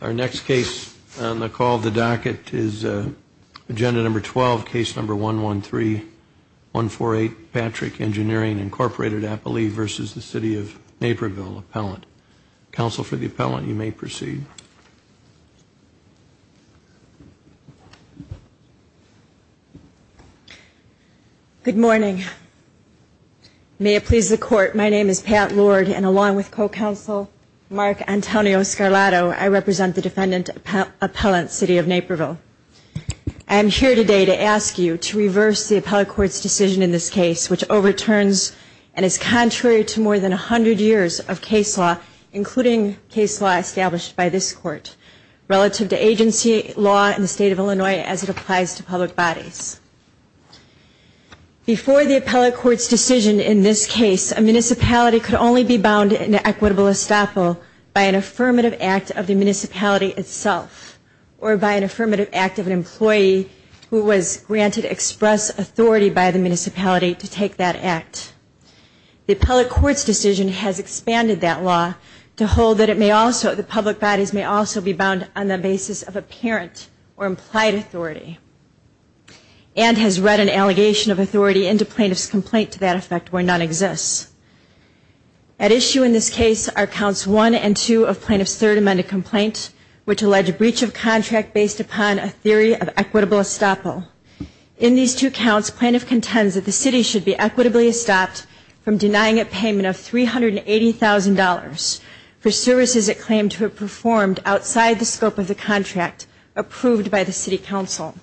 Our next case on the call of the docket is Agenda Number 12, Case Number 113-148, Patrick Engineering, Inc. Appelee v. City of Naperville Appellant. Counsel for the Appellant, you may proceed. Good morning. May it please the Court, my name is Pat Lord, and along with Co-Counsel Mark Antonio Scarlato, I represent the Defendant Appellant, City of Naperville. I am here today to ask you to reverse the Appellate Court's decision in this case, which overturns and is contrary to more than 100 years of case law, including case law established by this Court, relative to agency law in the State of Illinois as it applies to public bodies. Before the Appellate Court's decision in this case, a municipality could only be bound in an equitable estoppel by an affirmative act of the municipality itself, or by an affirmative act of an employee who was granted express authority by the municipality to take that act. The Appellate Court's decision has expanded that law to hold that public bodies may also be bound on the basis of apparent or implied authority. And has read an allegation of authority into plaintiff's complaint to that effect where none exists. At issue in this case are counts 1 and 2 of plaintiff's third amended complaint, which allege a breach of contract based upon a theory of equitable estoppel. In these two counts, plaintiff contends that the city should be equitably estopped from denying it payment of $380,000 for services it claimed to have performed outside the scope of the contract approved by the City Council.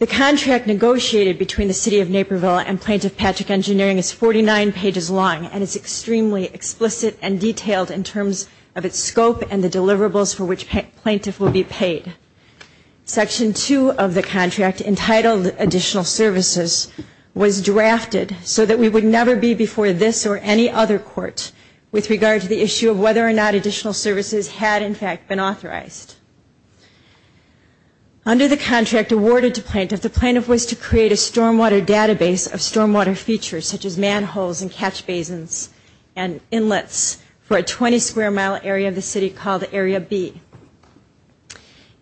The contract negotiated between the City of Naperville and Plaintiff Patrick Engineering is 49 pages long and is extremely explicit and detailed in terms of its scope and the deliverables for which plaintiff will be paid. Section 2 of the contract, entitled Additional Services, was drafted so that we would never be before this or any other court with regard to the issue of whether or not additional services had in fact been authorized. Under the contract awarded to plaintiff, the plaintiff was to create a stormwater database of stormwater features such as manholes and catch basins and inlets for a 20 square mile area of the city called Area B.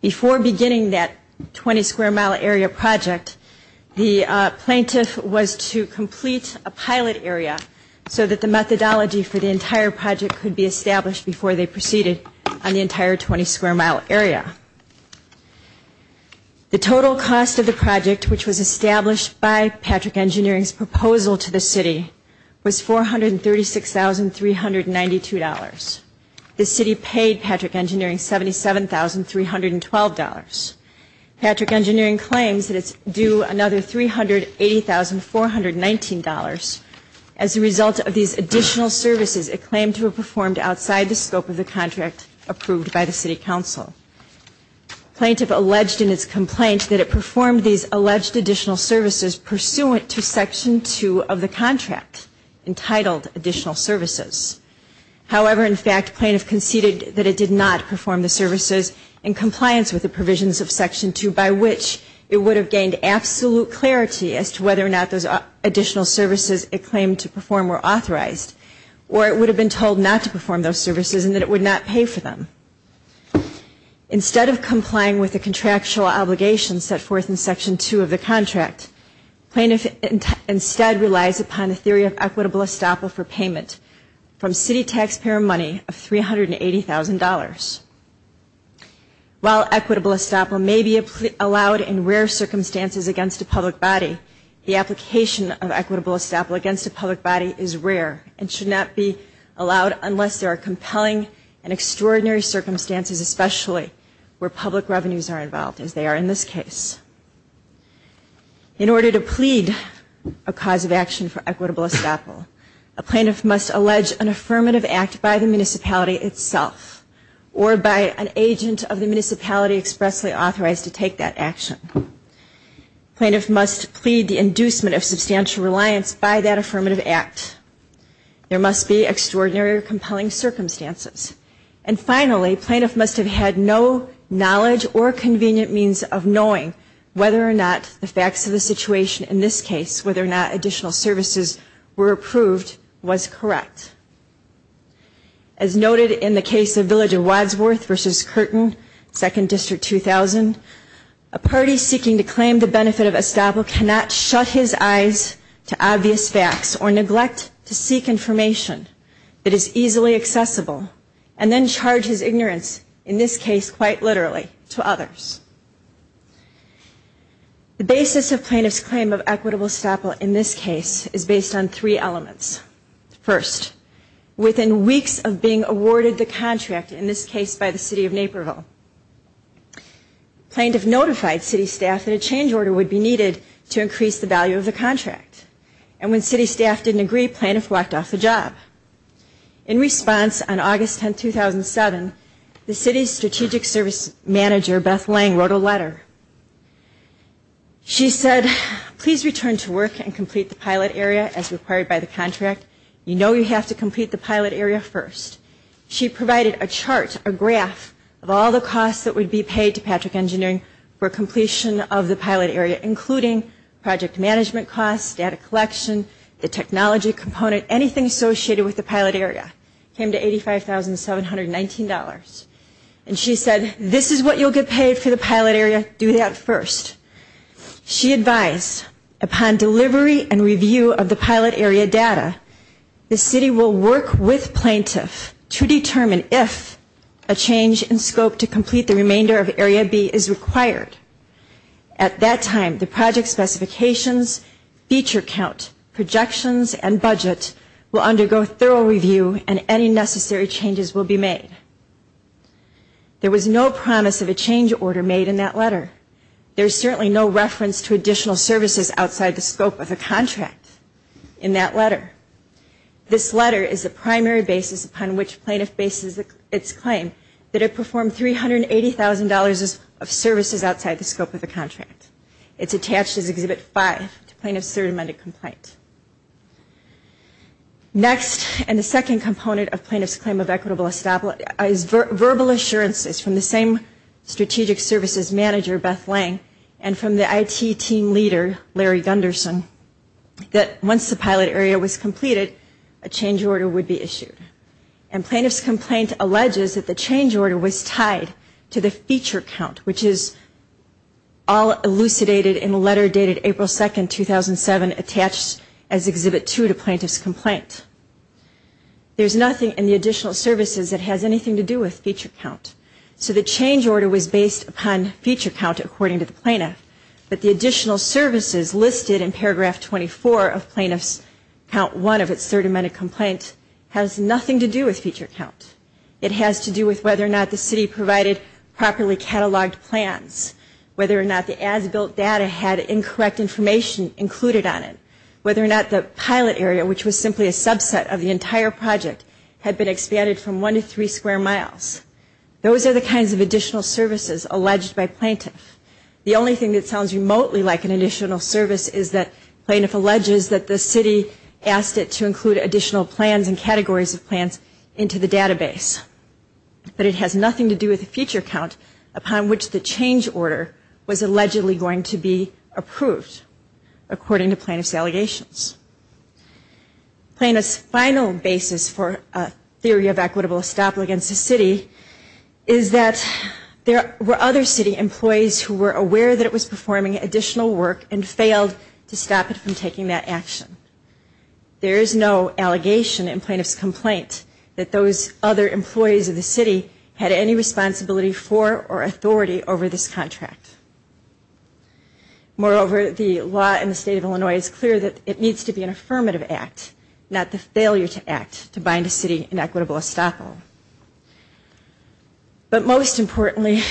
Before beginning that 20 square mile area project, the plaintiff was to complete a pilot area so that the methodology for the entire project could be established before they proceeded on the entire 20 square mile area. The total cost of the project, which was established by Patrick Engineering's proposal to the city, was $436,392. The city paid Patrick Engineering $77,312. Patrick Engineering claims that it's due another $380,419. As a result of these additional services, it claimed to have performed outside the scope of the contract approved by the City Council. Plaintiff alleged in its complaint that it performed these alleged additional services pursuant to Section 2 of the contract, entitled additional services. However, in fact, plaintiff conceded that it did not perform the services in compliance with the provisions of Section 2 by which it would have gained absolute clarity as to whether or not those additional services it claimed to perform were authorized or it would have been told not to perform those services and that it would not pay for them. Instead of complying with the contractual obligations set forth in Section 2 of the contract, plaintiff instead relies upon the theory of equitable estoppel for payment from city taxpayer money of $380,000. While equitable estoppel may be allowed in rare circumstances against a public body, the application of equitable estoppel against a public body is rare and should not be allowed unless there are compelling and extraordinary circumstances, especially where public revenues are involved, as they are in this case. In order to plead a cause of action for equitable estoppel, a plaintiff must allege an affirmative act by the municipality itself or by an agent of the municipality expressly authorized to take that action. Plaintiff must plead the inducement of substantial reliance by that affirmative act. There must be extraordinary or compelling circumstances. And finally, plaintiff must have had no knowledge or convenient means of knowing whether or not the facts of the situation, in this case whether or not additional services were approved, was correct. As noted in the case of Village of Wadsworth v. Curtin, 2nd District, 2000, a party seeking to claim the benefit of estoppel cannot shut his eyes to obvious facts or neglect to seek information that is easily accessible and then charge his ignorance, in this case quite literally, to others. The basis of plaintiff's claim of equitable estoppel in this case is based on three elements. First, within weeks of being awarded the contract, in this case by the city of Naperville, plaintiff notified city staff that a change order would be needed to increase the value of the contract. And when city staff didn't agree, plaintiff walked off the job. In response, on August 10, 2007, the city's strategic service manager, Beth Lang, wrote a letter. She said, please return to work and complete the pilot area as required by the contract. You know you have to complete the pilot area first. She provided a chart, a graph, of all the costs that would be paid to Patrick Engineering for completion of the pilot area, including project management costs, data collection, the technology component, anything associated with the pilot area. It came to $85,719. And she said, this is what you'll get paid for the pilot area. Do that first. She advised, upon delivery and review of the pilot area data, the city will work with plaintiff to determine if a change in scope to complete the remainder of Area B is required. At that time, the project specifications, feature count, projections, and budget will undergo thorough review and any necessary changes will be made. There was no promise of a change order made in that letter. There is certainly no reference to additional services outside the scope of the contract in that letter. This letter is the primary basis upon which plaintiff bases its claim that it performed $380,000 of services outside the scope of the contract. It's attached as Exhibit 5 to plaintiff's third amended complaint. Next, and the second component of plaintiff's claim of equitable establishment, is verbal assurances from the same strategic services manager, Beth Lang, and from the IT team leader, Larry Gunderson, that once the pilot area was completed, a change order would be issued. And plaintiff's complaint alleges that the change order was tied to the feature count, which is all elucidated in the letter dated April 2, 2007, attached as Exhibit 2 to plaintiff's complaint. There's nothing in the additional services that has anything to do with feature count. So the change order was based upon feature count, according to the plaintiff. But the additional services listed in Paragraph 24 of Plaintiff's Count 1 of its third amended complaint has nothing to do with feature count. It has to do with whether or not the city provided properly cataloged plans, whether or not the as-built data had incorrect information included on it, whether or not the pilot area, which was simply a subset of the entire project, had been expanded from one to three square miles. Those are the kinds of additional services alleged by plaintiff. The only thing that sounds remotely like an additional service is that plaintiff alleges that the city asked it to include additional plans and categories of plans into the database. But it has nothing to do with the feature count upon which the change order was allegedly going to be approved, according to plaintiff's allegations. Plaintiff's final basis for a theory of equitable estoppel against the city is that there were other city employees who were aware that it was performing additional work and failed to stop it from taking that action. There is no allegation in plaintiff's complaint that those other employees of the city had any responsibility for or authority over this contract. Moreover, the law in the state of Illinois is clear that it needs to be an affirmative act, not the failure to act to bind a city in equitable estoppel. But most importantly,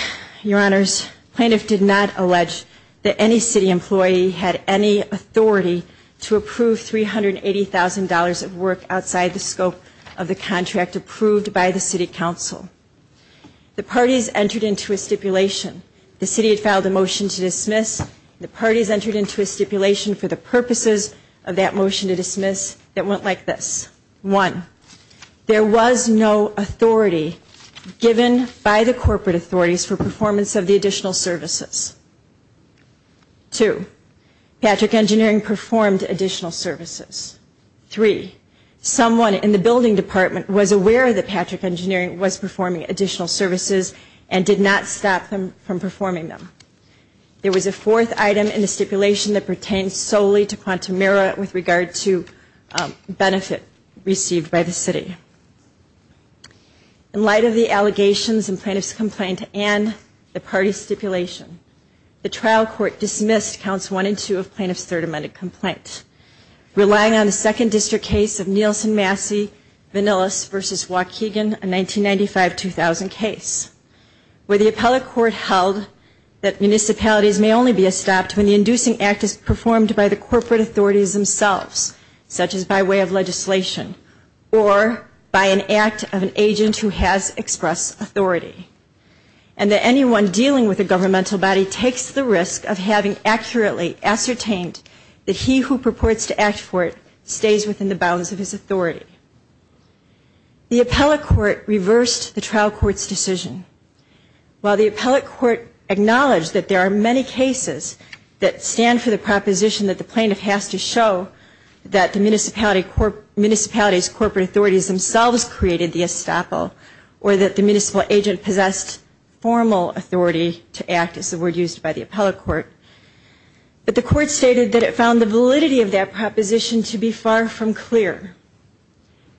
Your Honors, plaintiff did not allege that any city employee had any authority to approve $380,000 of work outside the scope of the contract approved by the city council. The parties entered into a stipulation. The city had filed a motion to dismiss. The parties entered into a stipulation for the purposes of that motion to dismiss that went like this. One, there was no authority given by the corporate authorities for performance of the additional services. Two, Patrick Engineering performed additional services. Three, someone in the building department was aware that Patrick Engineering was performing additional services and did not stop them from performing them. There was a fourth item in the stipulation that pertained solely to quantum merit with regard to benefit received by the city. In light of the allegations in plaintiff's complaint and the parties' stipulation, the trial court dismissed counts one and two of plaintiff's third amended complaint, relying on the second district case of Nielsen-Massey-Vanillas v. Waukegan, a 1995-2000 case, where the appellate court held that municipalities may only be stopped when the inducing act is performed by the corporate authorities themselves, such as by way of legislation or by an act of an agent who has expressed authority, and that anyone dealing with a governmental body takes the risk of having accurately ascertained that he who purports to act for it stays within the bounds of his authority. The appellate court reversed the trial court's decision. While the appellate court acknowledged that there are many cases that stand for the proposition that the plaintiff has to show that the municipality's corporate authorities themselves created the estoppel or that the municipal agent possessed formal authority to act, as the word used by the appellate court, but the court stated that it found the validity of that proposition to be far from clear.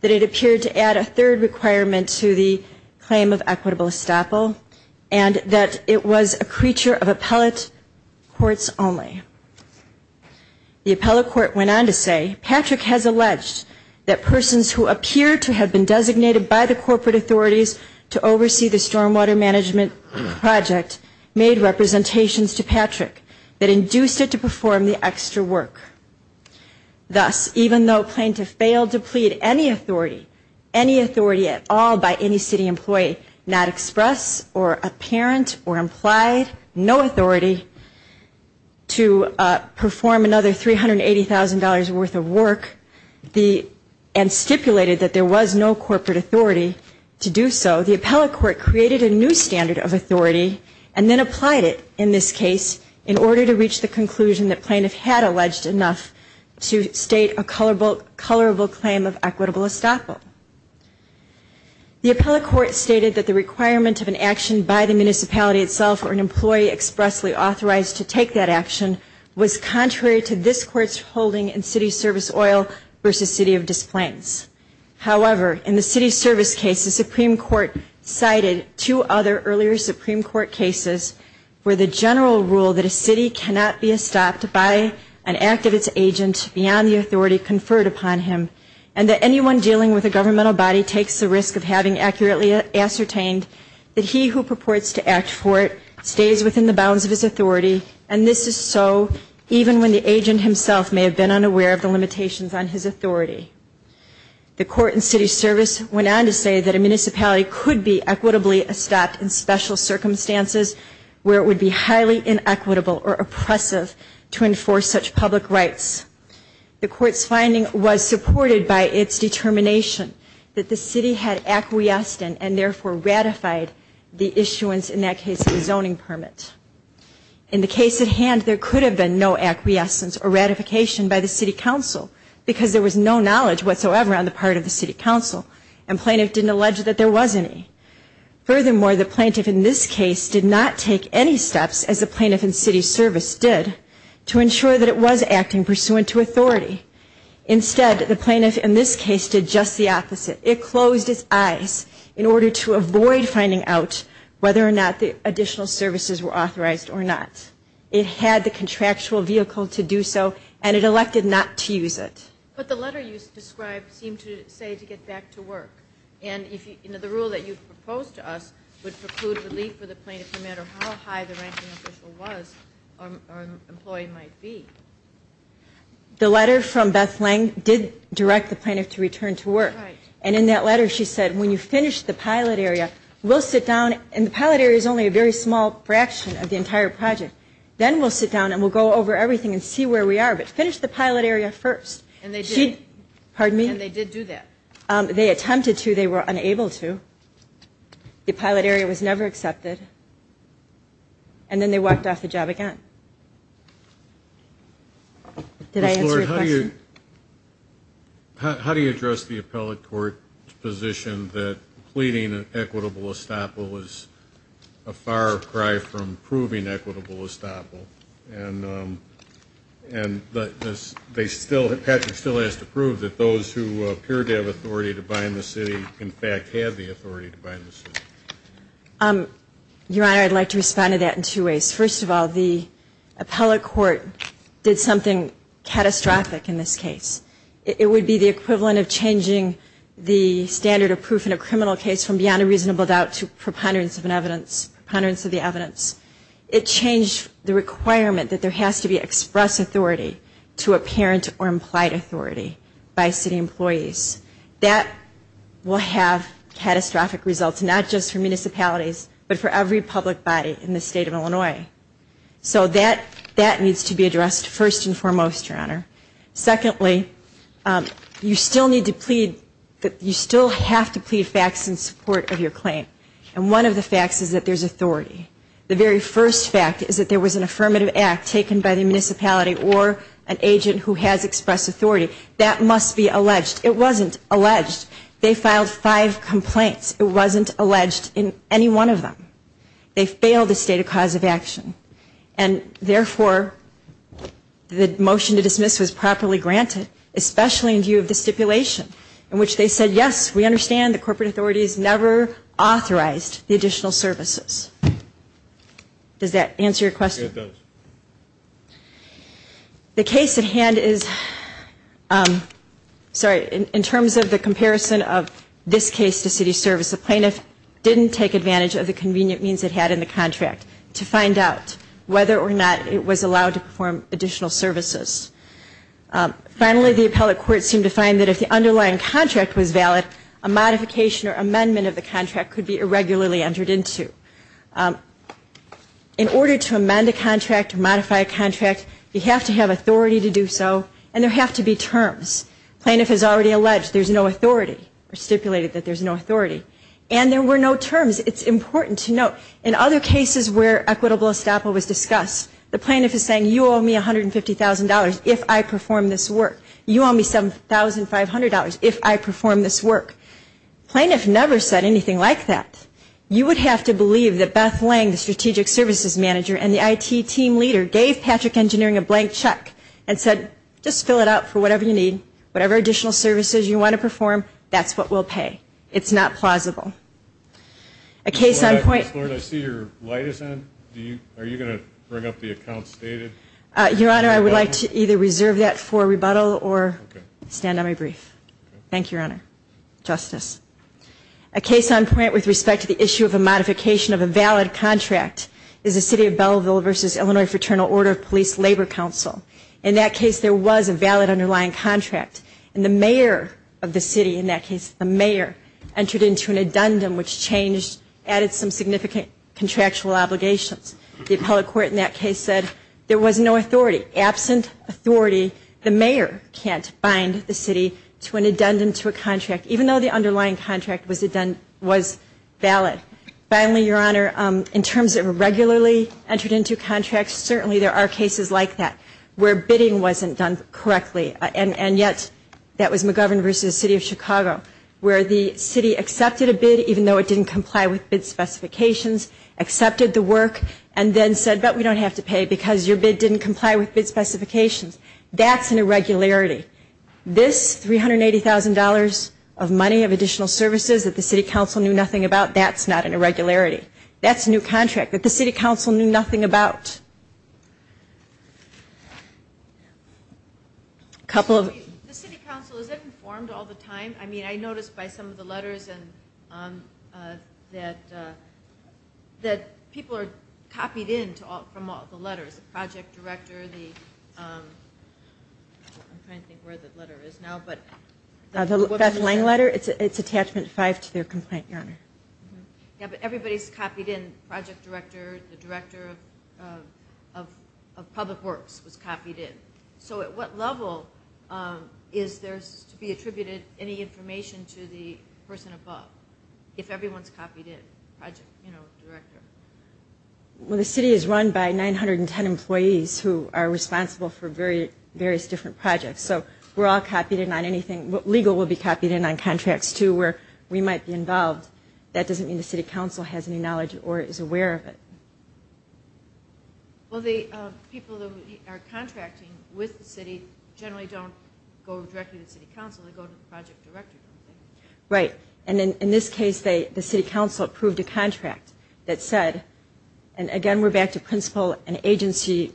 That it appeared to add a third requirement to the claim of equitable estoppel and that it was a creature of appellate courts only. The appellate court went on to say, Patrick has alleged that persons who appear to have been designated by the corporate authorities to oversee the stormwater management project made representations to Patrick that induced it to perform the extra work. Thus, even though plaintiff failed to plead any authority, any authority at all by any city employee, not express or apparent or implied no authority to perform another $380,000 worth of work and stipulated that there was no corporate authority to do so, the appellate court created a new standard of authority and then applied it in this case in order to reach the conclusion that plaintiff had alleged enough to state a colorable claim of equitable estoppel. The appellate court stated that the requirement of an action by the municipality itself or an employee expressly authorized to take that action was contrary to this court's holding in city service oil versus city of displaced. However, in the city service case, the Supreme Court cited two other earlier Supreme Court cases where the general rule that a city cannot be estopped by an act of its agent beyond the authority conferred upon him and that anyone dealing with a governmental body takes the risk of having accurately ascertained that he who purports to act for it stays within the bounds of his authority and this is so even when the agent himself may have been unaware of the limitations on his authority. The court in city service went on to say that a municipality could be equitably estopped in special circumstances where it would be highly inequitable or oppressive to enforce such public rights. The court's finding was supported by its determination that the city had acquiesced and therefore ratified the issuance, in that case, of a zoning permit. In the case at hand, there could have been no acquiescence or ratification by the city council because there was no knowledge whatsoever on the part of the city council and plaintiff didn't allege that there was any. Furthermore, the plaintiff in this case did not take any steps, as the plaintiff in city service did, to ensure that it was acting pursuant to authority. Instead, the plaintiff in this case did just the opposite. It closed its eyes in order to avoid finding out whether or not the additional services were authorized or not. It had the contractual vehicle to do so and it elected not to use it. But the letter you described seemed to say to get back to work and the rule that you proposed to us would preclude relief for the plaintiff no matter how high the ranking official was or employee might be. The letter from Beth Lang did direct the plaintiff to return to work. And in that letter, she said, when you finish the pilot area, we'll sit down and the pilot area is only a very small fraction of the entire project. Then we'll sit down and we'll go over everything and see where we are, but finish the pilot area first. And they did. Pardon me? And they did do that. They attempted to. They were unable to. The pilot area was never accepted. And then they walked off the job again. Did I answer your question? How do you address the appellate court's position that pleading an equitable estoppel is a far cry from proving equitable estoppel? And Patrick still has to prove that those who appear to have authority to bind the city in fact had the authority to bind the city. Your Honor, I'd like to respond to that in two ways. First of all, the appellate court did something catastrophic in this case. It would be the equivalent of changing the standard of proof in a criminal case from beyond a reasonable doubt to preponderance of an evidence, preponderance of the evidence. It changed the requirement that there has to be express authority to apparent or implied authority by city employees. That will have catastrophic results, not just for municipalities, but for every public body in the state of Illinois. So that needs to be addressed first and foremost, Your Honor. Secondly, you still need to plead, you still have to plead facts in support of your claim. And one of the facts is that there's authority. The very first fact is that there was an affirmative act taken by the municipality or an agent who has express authority. That must be alleged. It wasn't alleged. They filed five complaints. It wasn't alleged in any one of them. They failed the state of cause of action. And therefore, the motion to dismiss was properly granted, especially in view of the stipulation in which they said, yes, we understand the corporate authorities never authorized the additional services. Does that answer your question? It does. The case at hand is, sorry, in terms of the comparison of this case to city service, the plaintiff didn't take advantage of the convenient means it had in the contract to find out whether or not it was allowed to perform additional services. Finally, the appellate court seemed to find that if the underlying contract was valid, a modification or amendment of the contract could be irregularly entered into. In order to amend a contract or modify a contract, you have to have authority to do so, and there have to be terms. The plaintiff has already alleged there's no authority or stipulated that there's no authority. And there were no terms. It's important to note. In other cases where equitable estoppel was discussed, the plaintiff is saying, you owe me $150,000 if I perform this work. You owe me $7,500 if I perform this work. The plaintiff never said anything like that. You would have to believe that Beth Lang, the strategic services manager, and the IT team leader gave Patrick Engineering a blank check and said, just fill it out for whatever you need. Whatever additional services you want to perform, that's what we'll pay. It's not plausible. A case on point. Ms. Lord, I see your light is on. Are you going to bring up the accounts stated? Your Honor, I would like to either reserve that for rebuttal or stand on my brief. Thank you, Your Honor. Justice. A case on point with respect to the issue of a modification of a valid contract is the City of Belleville v. Illinois Fraternal Order of Police Labor Council. In that case, there was a valid underlying contract. And the mayor of the city in that case, the mayor, entered into an addendum which added some significant contractual obligations. The appellate court in that case said there was no authority. Absent authority, the mayor can't bind the city to an addendum to a contract, even though the underlying contract was valid. Finally, Your Honor, in terms of regularly entered into contracts, certainly there are cases like that where bidding wasn't done correctly. And yet that was McGovern v. City of Chicago where the city accepted a bid even though it didn't comply with bid specifications, accepted the work, and then said, but we don't have to pay because your bid didn't comply with bid specifications. That's an irregularity. This $380,000 of money of additional services that the city council knew nothing about, that's not an irregularity. That's a new contract that the city council knew nothing about. A couple of others. The city council, is it informed all the time? I mean, I notice by some of the letters that people are copied in from all the letters, the project director, the ‑‑ I'm trying to think where the letter is now. The Beth Lang letter, it's attachment 5 to their complaint, Your Honor. Yeah, but everybody's copied in, project director, the director of public works was copied in. So at what level is there to be attributed any information to the person above if everyone's copied in, project director? Well, the city is run by 910 employees who are responsible for various different projects. So we're all copied in on anything. Legal will be copied in on contracts too where we might be involved. That doesn't mean the city council has any knowledge or is aware of it. Well, the people who are contracting with the city generally don't go directly to the city council. They go to the project director, don't they? Right. And in this case, the city council approved a contract that said, and again we're back to principle and agency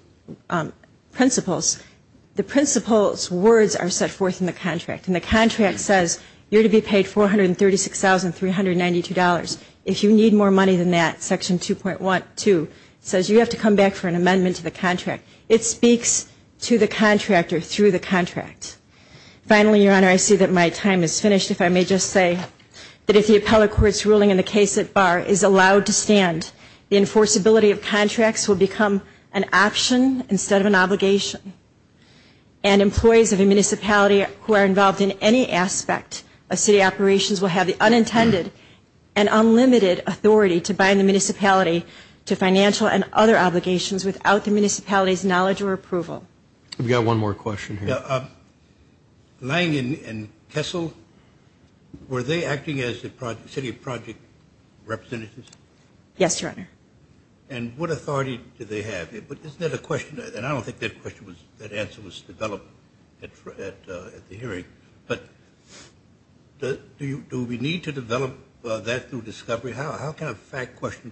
principles, the principle's words are set forth in the contract. And the contract says you're to be paid $436,392. If you need more money than that, section 2.2 says you have to come back for an amendment to the contract. It speaks to the contractor through the contract. Finally, Your Honor, I see that my time is finished if I may just say that if the appellate court's ruling in the case at bar is allowed to stand, the enforceability of contracts will become an option instead of an obligation and employees of a municipality who are involved in any aspect of city operations will have the unintended and unlimited authority to bind the municipality to financial and other obligations without the municipality's knowledge or approval. We've got one more question here. Lange and Kessel, were they acting as the city project representatives? Yes, Your Honor. And what authority do they have? But isn't that a question? And I don't think that answer was developed at the hearing. But do we need to develop that through discovery? How can a fact question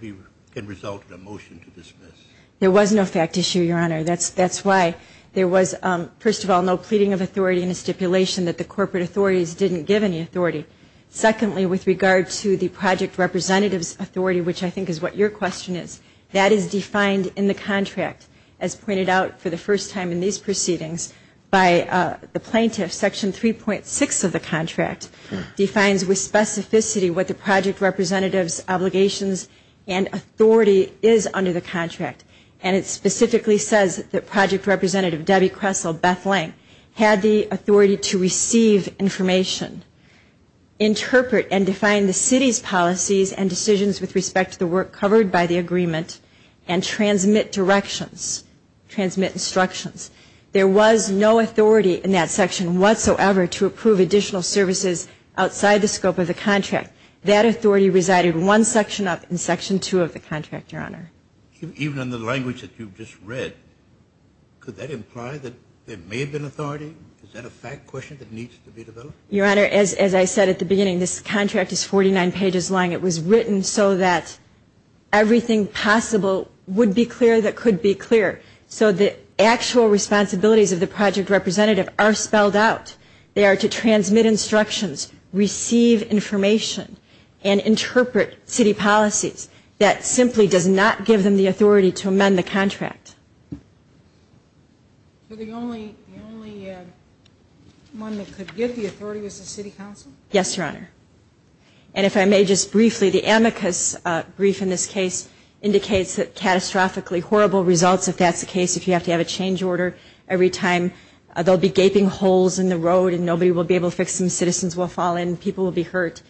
result in a motion to dismiss? There was no fact issue, Your Honor. That's why there was, first of all, no pleading of authority in the stipulation that the corporate authorities didn't give any authority. Secondly, with regard to the project representative's authority, which I think is what your question is, that is defined in the contract as pointed out for the first time in these proceedings by the plaintiff. Section 3.6 of the contract defines with specificity what the project representative's obligations and authority is under the contract. And it specifically says that project representative Debbie Kessel, Beth Lange, had the authority to receive information, interpret and define the city's policies and decisions with respect to the work covered by the agreement, and transmit directions, transmit instructions. There was no authority in that section whatsoever to approve additional services outside the scope of the contract. That authority resided one section up in Section 2 of the contract, Your Honor. Even in the language that you've just read, could that imply that there may have been authority? Is that a fact question that needs to be developed? Your Honor, as I said at the beginning, this contract is 49 pages long. It was written so that everything possible would be clear that could be clear. So the actual responsibilities of the project representative are spelled out. They are to transmit instructions, receive information, and interpret city policies. That simply does not give them the authority to amend the contract. So the only one that could get the authority was the city council? Yes, Your Honor. And if I may just briefly, the amicus brief in this case indicates that catastrophically horrible results, if that's the case, if you have to have a change order every time there will be gaping holes in the road and nobody will be able to fix them, citizens will fall in, people will be hurt.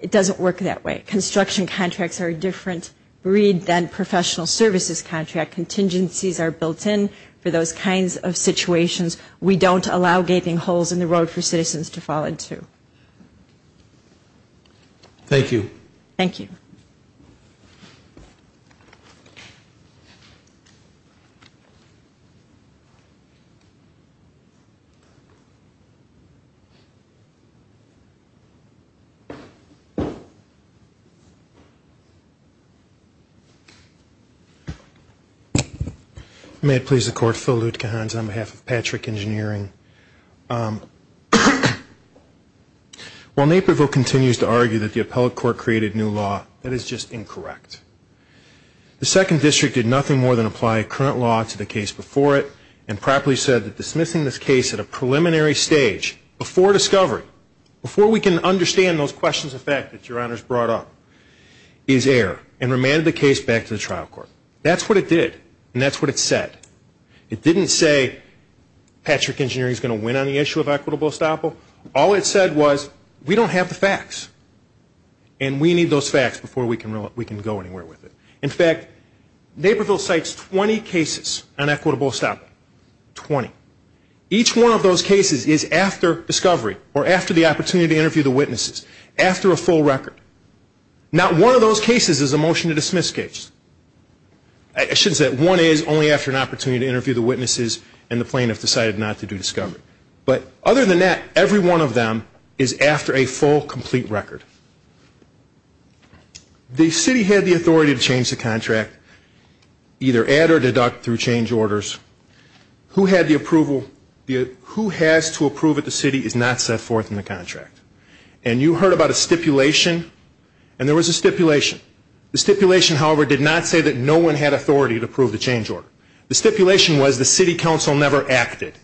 It doesn't work that way. Construction contracts are a different breed than professional services contracts. Contingencies are built in for those kinds of situations. We don't allow gaping holes in the road for citizens to fall into. Thank you. May it please the Court. Phil Lutkehans on behalf of Patrick Engineering. While Naperville continues to argue that the appellate court created new law, that is just incorrect. The second district did nothing more than apply current law to the case before it and properly said that dismissing this case at a preliminary stage, before discovery, before we can understand those questions of fact that Your Honor has brought up, is error, and remanded the case back to the trial court. That's what it did and that's what it said. It didn't say Patrick Engineering is going to win on the issue of equitable estoppel. All it said was we don't have the facts and we need those facts before we can go anywhere with it. In fact, Naperville cites 20 cases on equitable estoppel, 20. Each one of those cases is after discovery or after the opportunity to interview the witnesses, after a full record. Not one of those cases is a motion to dismiss case. I shouldn't say that. One is only after an opportunity to interview the witnesses and the plaintiff decided not to do discovery. But other than that, every one of them is after a full, complete record. The city had the authority to change the contract, either add or deduct through change orders. Who had the approval? Who has to approve it? The city is not set forth in the contract. And you heard about a stipulation and there was a stipulation. The stipulation, however, did not say that no one had authority to approve the change order. The stipulation was the city council never acted.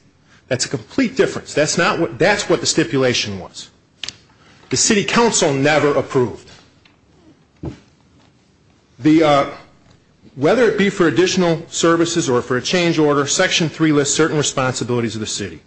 That's a complete difference. That's what the stipulation was. The city council never approved. Whether it be for additional services or for a change order, Section 3 lists certain responsibilities of the city.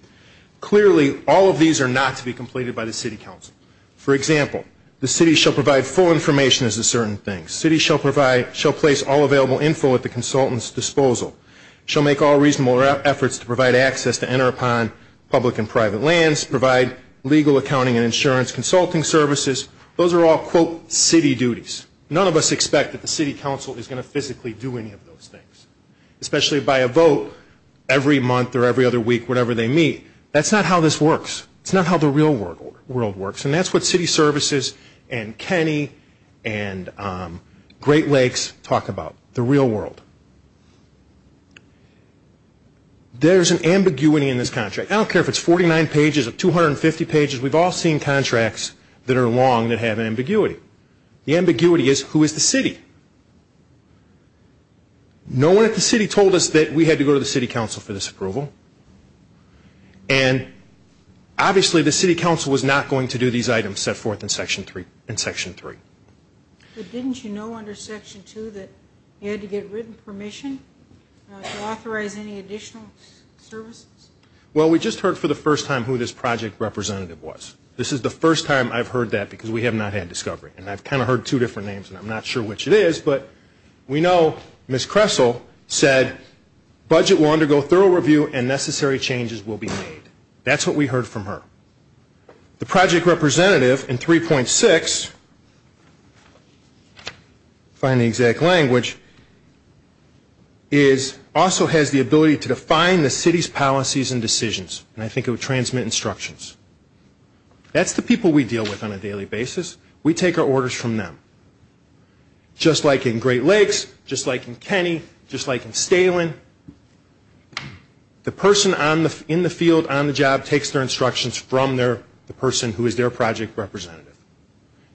Clearly, all of these are not to be completed by the city council. For example, the city shall provide full information as to certain things. The city shall place all available info at the consultant's disposal. It shall make all reasonable efforts to provide access to enter upon public and private lands, provide legal accounting and insurance, consulting services. Those are all, quote, city duties. None of us expect that the city council is going to physically do any of those things, especially by a vote every month or every other week, whatever they meet. That's not how this works. It's not how the real world works. And that's what city services and Kenny and Great Lakes talk about, the real world. There's an ambiguity in this contract. I don't care if it's 49 pages or 250 pages. We've all seen contracts that are long that have an ambiguity. The ambiguity is who is the city? No one at the city told us that we had to go to the city council for this approval. And obviously the city council was not going to do these items set forth in Section 3. But didn't you know under Section 2 that you had to get written permission to authorize any additional services? Well, we just heard for the first time who this project representative was. This is the first time I've heard that because we have not had discovery. And I've kind of heard two different names, and I'm not sure which it is. But we know Ms. Kressel said budget will undergo thorough review and necessary changes will be made. That's what we heard from her. The project representative in 3.6, find the exact language, also has the ability to define the city's policies and decisions. And I think it would transmit instructions. That's the people we deal with on a daily basis. We take our orders from them. Just like in Great Lakes, just like in Kenny, just like in Stalen, the person in the field on the job takes their instructions from the person who is their project representative.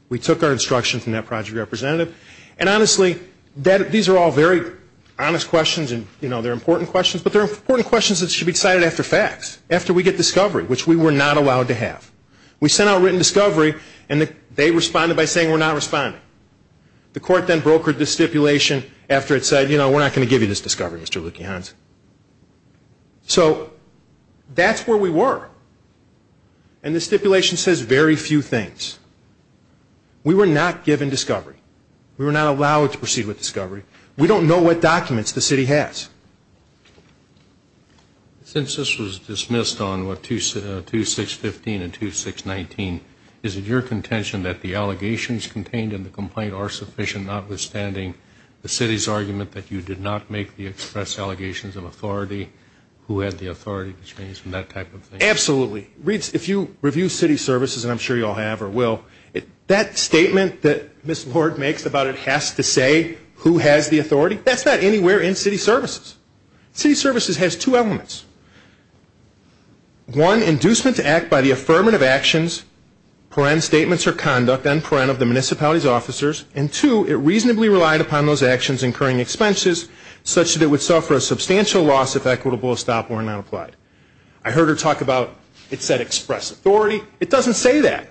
We took our instructions from that project representative. And honestly, these are all very honest questions, and they're important questions. But they're important questions that should be decided after facts, after we get discovery, which we were not allowed to have. We sent out written discovery, and they responded by saying we're not responding. The court then brokered the stipulation after it said, you know, we're not going to give you this discovery, Mr. Lukians. So that's where we were. And the stipulation says very few things. We were not given discovery. We were not allowed to proceed with discovery. We don't know what documents the city has. Since this was dismissed on 2615 and 2619, is it your contention that the allegations contained in the complaint are sufficient, notwithstanding the city's argument that you did not make the express allegations of authority, who had the authority to change, and that type of thing? Absolutely. If you review city services, and I'm sure you all have or will, that statement that Ms. Lord makes about it has to say who has the authority, that's not anywhere in city services. City services has two elements. One, inducement to act by the affirmative actions, paren statements or conduct on paren of the municipality's officers, and two, it reasonably relied upon those actions incurring expenses, such that it would suffer a substantial loss if equitable or stop were not applied. I heard her talk about it said express authority. It doesn't say that.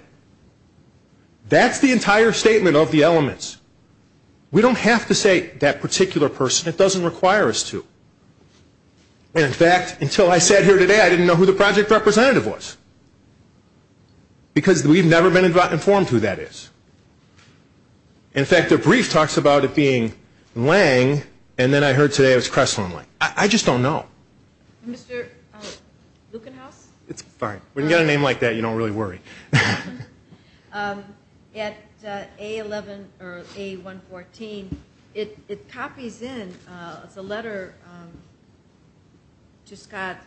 That's the entire statement of the elements. We don't have to say that particular person. It doesn't require us to. And, in fact, until I sat here today, I didn't know who the project representative was, because we've never been informed who that is. In fact, their brief talks about it being Lang, and then I heard today it was Cressland Lang. I just don't know. Mr. Lukenhaus? It's fine. When you get a name like that, you don't really worry. At A11 or A114, it copies in. It's a letter to Scott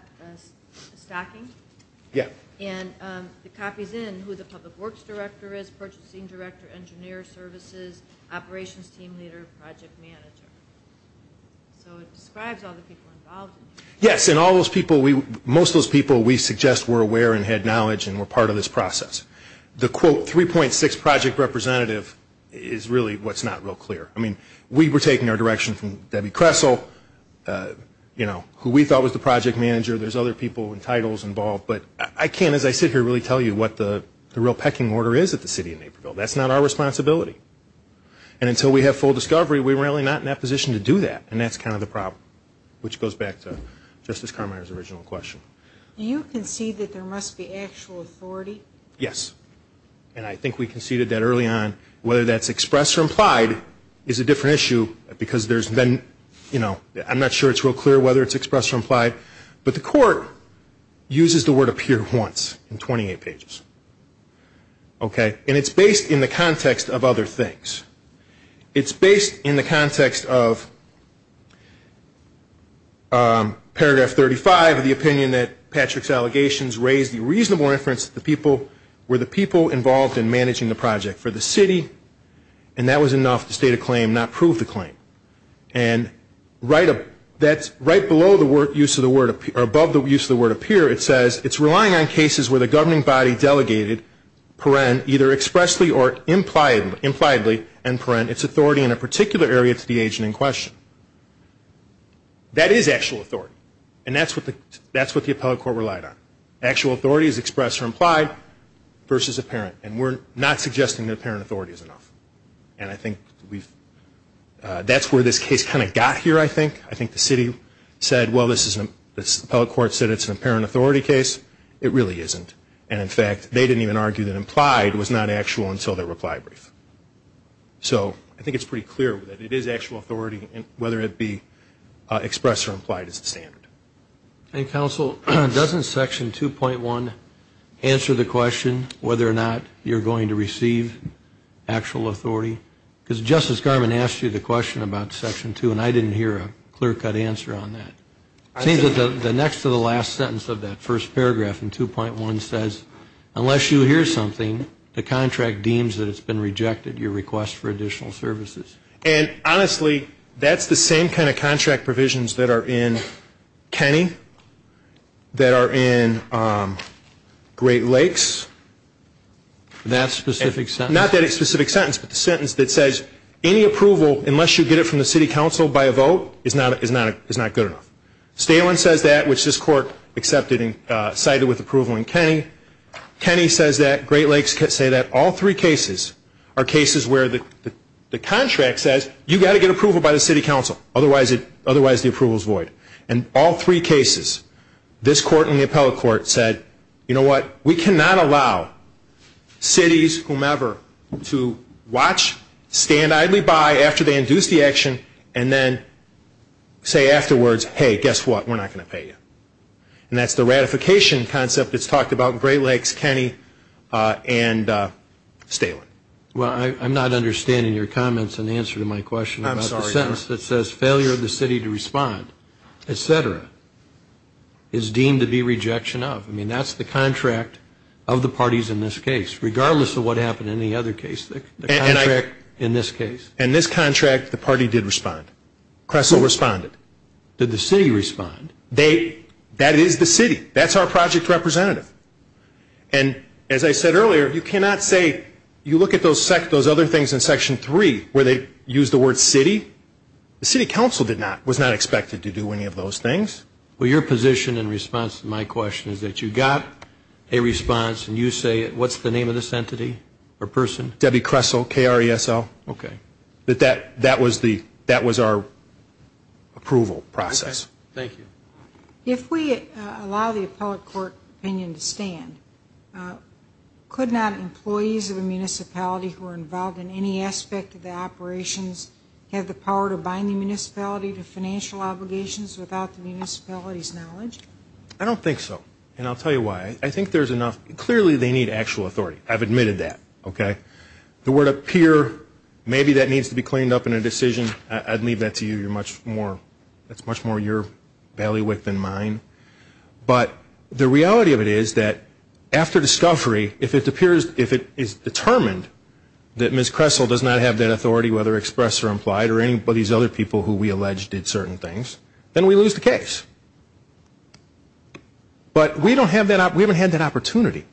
Stocking. Yeah. And it copies in who the public works director is, purchasing director, engineer services, operations team leader, project manager. So it describes all the people involved. Yes, and all those people, most of those people we suggest were aware and had knowledge and were part of this process. The, quote, 3.6 project representative is really what's not real clear. I mean, we were taking our direction from Debbie Cressel, you know, who we thought was the project manager. There's other people and titles involved. But I can't, as I sit here, really tell you what the real pecking order is at the City of Naperville. That's not our responsibility. And until we have full discovery, we're really not in that position to do that, and that's kind of the problem, which goes back to Justice Carminer's original question. Do you concede that there must be actual authority? Yes, and I think we conceded that early on. Whether that's expressed or implied is a different issue because there's been, you know, I'm not sure it's real clear whether it's expressed or implied, but the court uses the word appear once in 28 pages, okay? And it's based in the context of other things. It's based in the context of paragraph 35, the opinion that Patrick's allegations raise the reasonable inference that the people, were the people involved in managing the project for the city, and that was enough to state a claim, not prove the claim. And right below the use of the word appear, or above the use of the word appear, it says it's relying on cases where the governing body delegated, either expressly or impliedly, its authority in a particular area to the agent in question. That is actual authority, and that's what the appellate court relied on. Actual authority is expressed or implied versus apparent, and we're not suggesting that apparent authority is enough. And I think that's where this case kind of got here, I think. I think the city said, well, this appellate court said it's an apparent authority case. It really isn't. And, in fact, they didn't even argue that implied was not actual until their reply brief. So I think it's pretty clear that it is actual authority, whether it be expressed or implied is the standard. And, Counsel, doesn't Section 2.1 answer the question, whether or not you're going to receive actual authority? Because Justice Garmon asked you the question about Section 2, and I didn't hear a clear-cut answer on that. It seems that the next to the last sentence of that first paragraph in 2.1 says, unless you hear something, the contract deems that it's been rejected, your request for additional services. And, honestly, that's the same kind of contract provisions that are in Kenny, that are in Great Lakes. That specific sentence? Not that specific sentence, but the sentence that says any approval, unless you get it from the city council by a vote, is not good enough. Stalen says that, which this Court accepted and cited with approval in Kenny. Kenny says that, Great Lakes says that. All three cases are cases where the contract says you've got to get approval by the city council, otherwise the approval is void. In all three cases, this Court and the appellate court said, you know what, we cannot allow cities, whomever, to watch, stand idly by after they induce the action, and then say afterwards, hey, guess what, we're not going to pay you. And that's the ratification concept that's talked about in Great Lakes, Kenny, and Stalen. Well, I'm not understanding your comments in answer to my question about the sentence that says, failure of the city to respond, et cetera, is deemed to be rejection of. I mean, that's the contract of the parties in this case, regardless of what happened in the other case, the contract in this case. In this contract, the party did respond. Cressel responded. Did the city respond? That is the city. That's our project representative. And as I said earlier, you cannot say, you look at those other things in Section 3 where they use the word city. The city council was not expected to do any of those things. Well, your position in response to my question is that you got a response, and you say, what's the name of this entity or person? Debbie Cressel, K-R-E-S-L. Okay. That was our approval process. Okay. Thank you. If we allow the appellate court opinion to stand, could not employees of a municipality who are involved in any aspect of the operations have the power to bind the municipality to financial obligations without the municipality's knowledge? I don't think so. And I'll tell you why. I think there's enough. Clearly, they need actual authority. I've admitted that. Okay. The word appear, maybe that needs to be cleaned up in a decision. I'd leave that to you. That's much more your ballywick than mine. But the reality of it is that after discovery, if it appears, if it is determined that Ms. Cressel does not have that authority, whether expressed or implied, or any of these other people who we allege did certain things, then we lose the case. But we don't have that, we haven't had that opportunity.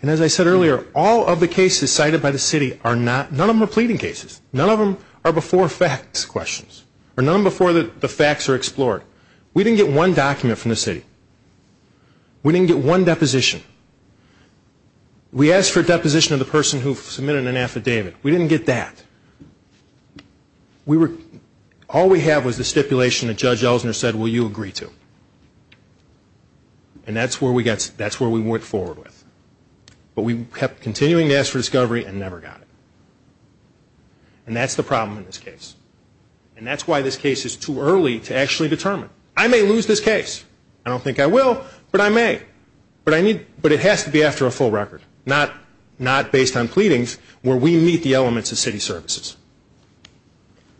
And as I said earlier, all of the cases cited by the city are not, none of them are pleading cases. None of them are before facts questions, or none of them before the facts are explored. We didn't get one document from the city. We didn't get one deposition. We asked for a deposition of the person who submitted an affidavit. We didn't get that. All we have was the stipulation that Judge Ellsner said, well, you agree to. And that's where we went forward with. But we kept continuing to ask for discovery and never got it. And that's the problem in this case. And that's why this case is too early to actually determine. I may lose this case. I don't think I will, but I may. But it has to be after a full record, not based on pleadings, where we meet the elements of city services.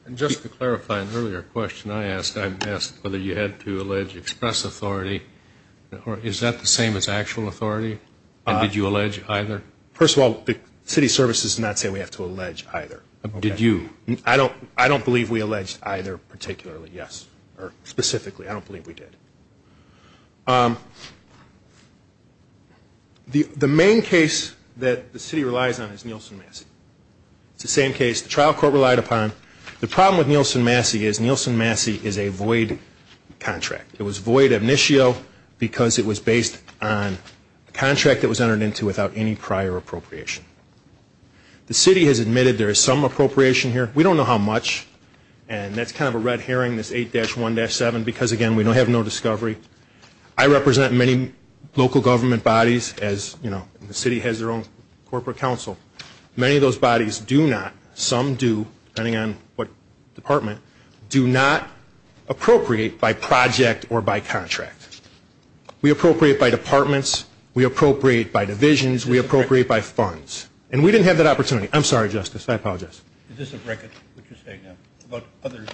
And just to clarify an earlier question I asked, I asked whether you had to allege express authority. Is that the same as actual authority? And did you allege either? First of all, the city services did not say we have to allege either. Did you? I don't believe we alleged either particularly, yes. Or specifically. I don't believe we did. The main case that the city relies on is Nielsen-Massey. It's the same case the trial court relied upon. The problem with Nielsen-Massey is Nielsen-Massey is a void contract. It was void initio because it was based on a contract that was entered into without any prior appropriation. The city has admitted there is some appropriation here. We don't know how much. And that's kind of a red herring, this 8-1-7, because, again, we have no discovery. I represent many local government bodies as, you know, the city has their own corporate council. Many of those bodies do not, some do, depending on what department, do not appropriate by project or by contract. We appropriate by departments. We appropriate by divisions. We appropriate by funds. And we didn't have that opportunity. I'm sorry, Justice. I apologize. Is this of record, what you're saying now, about other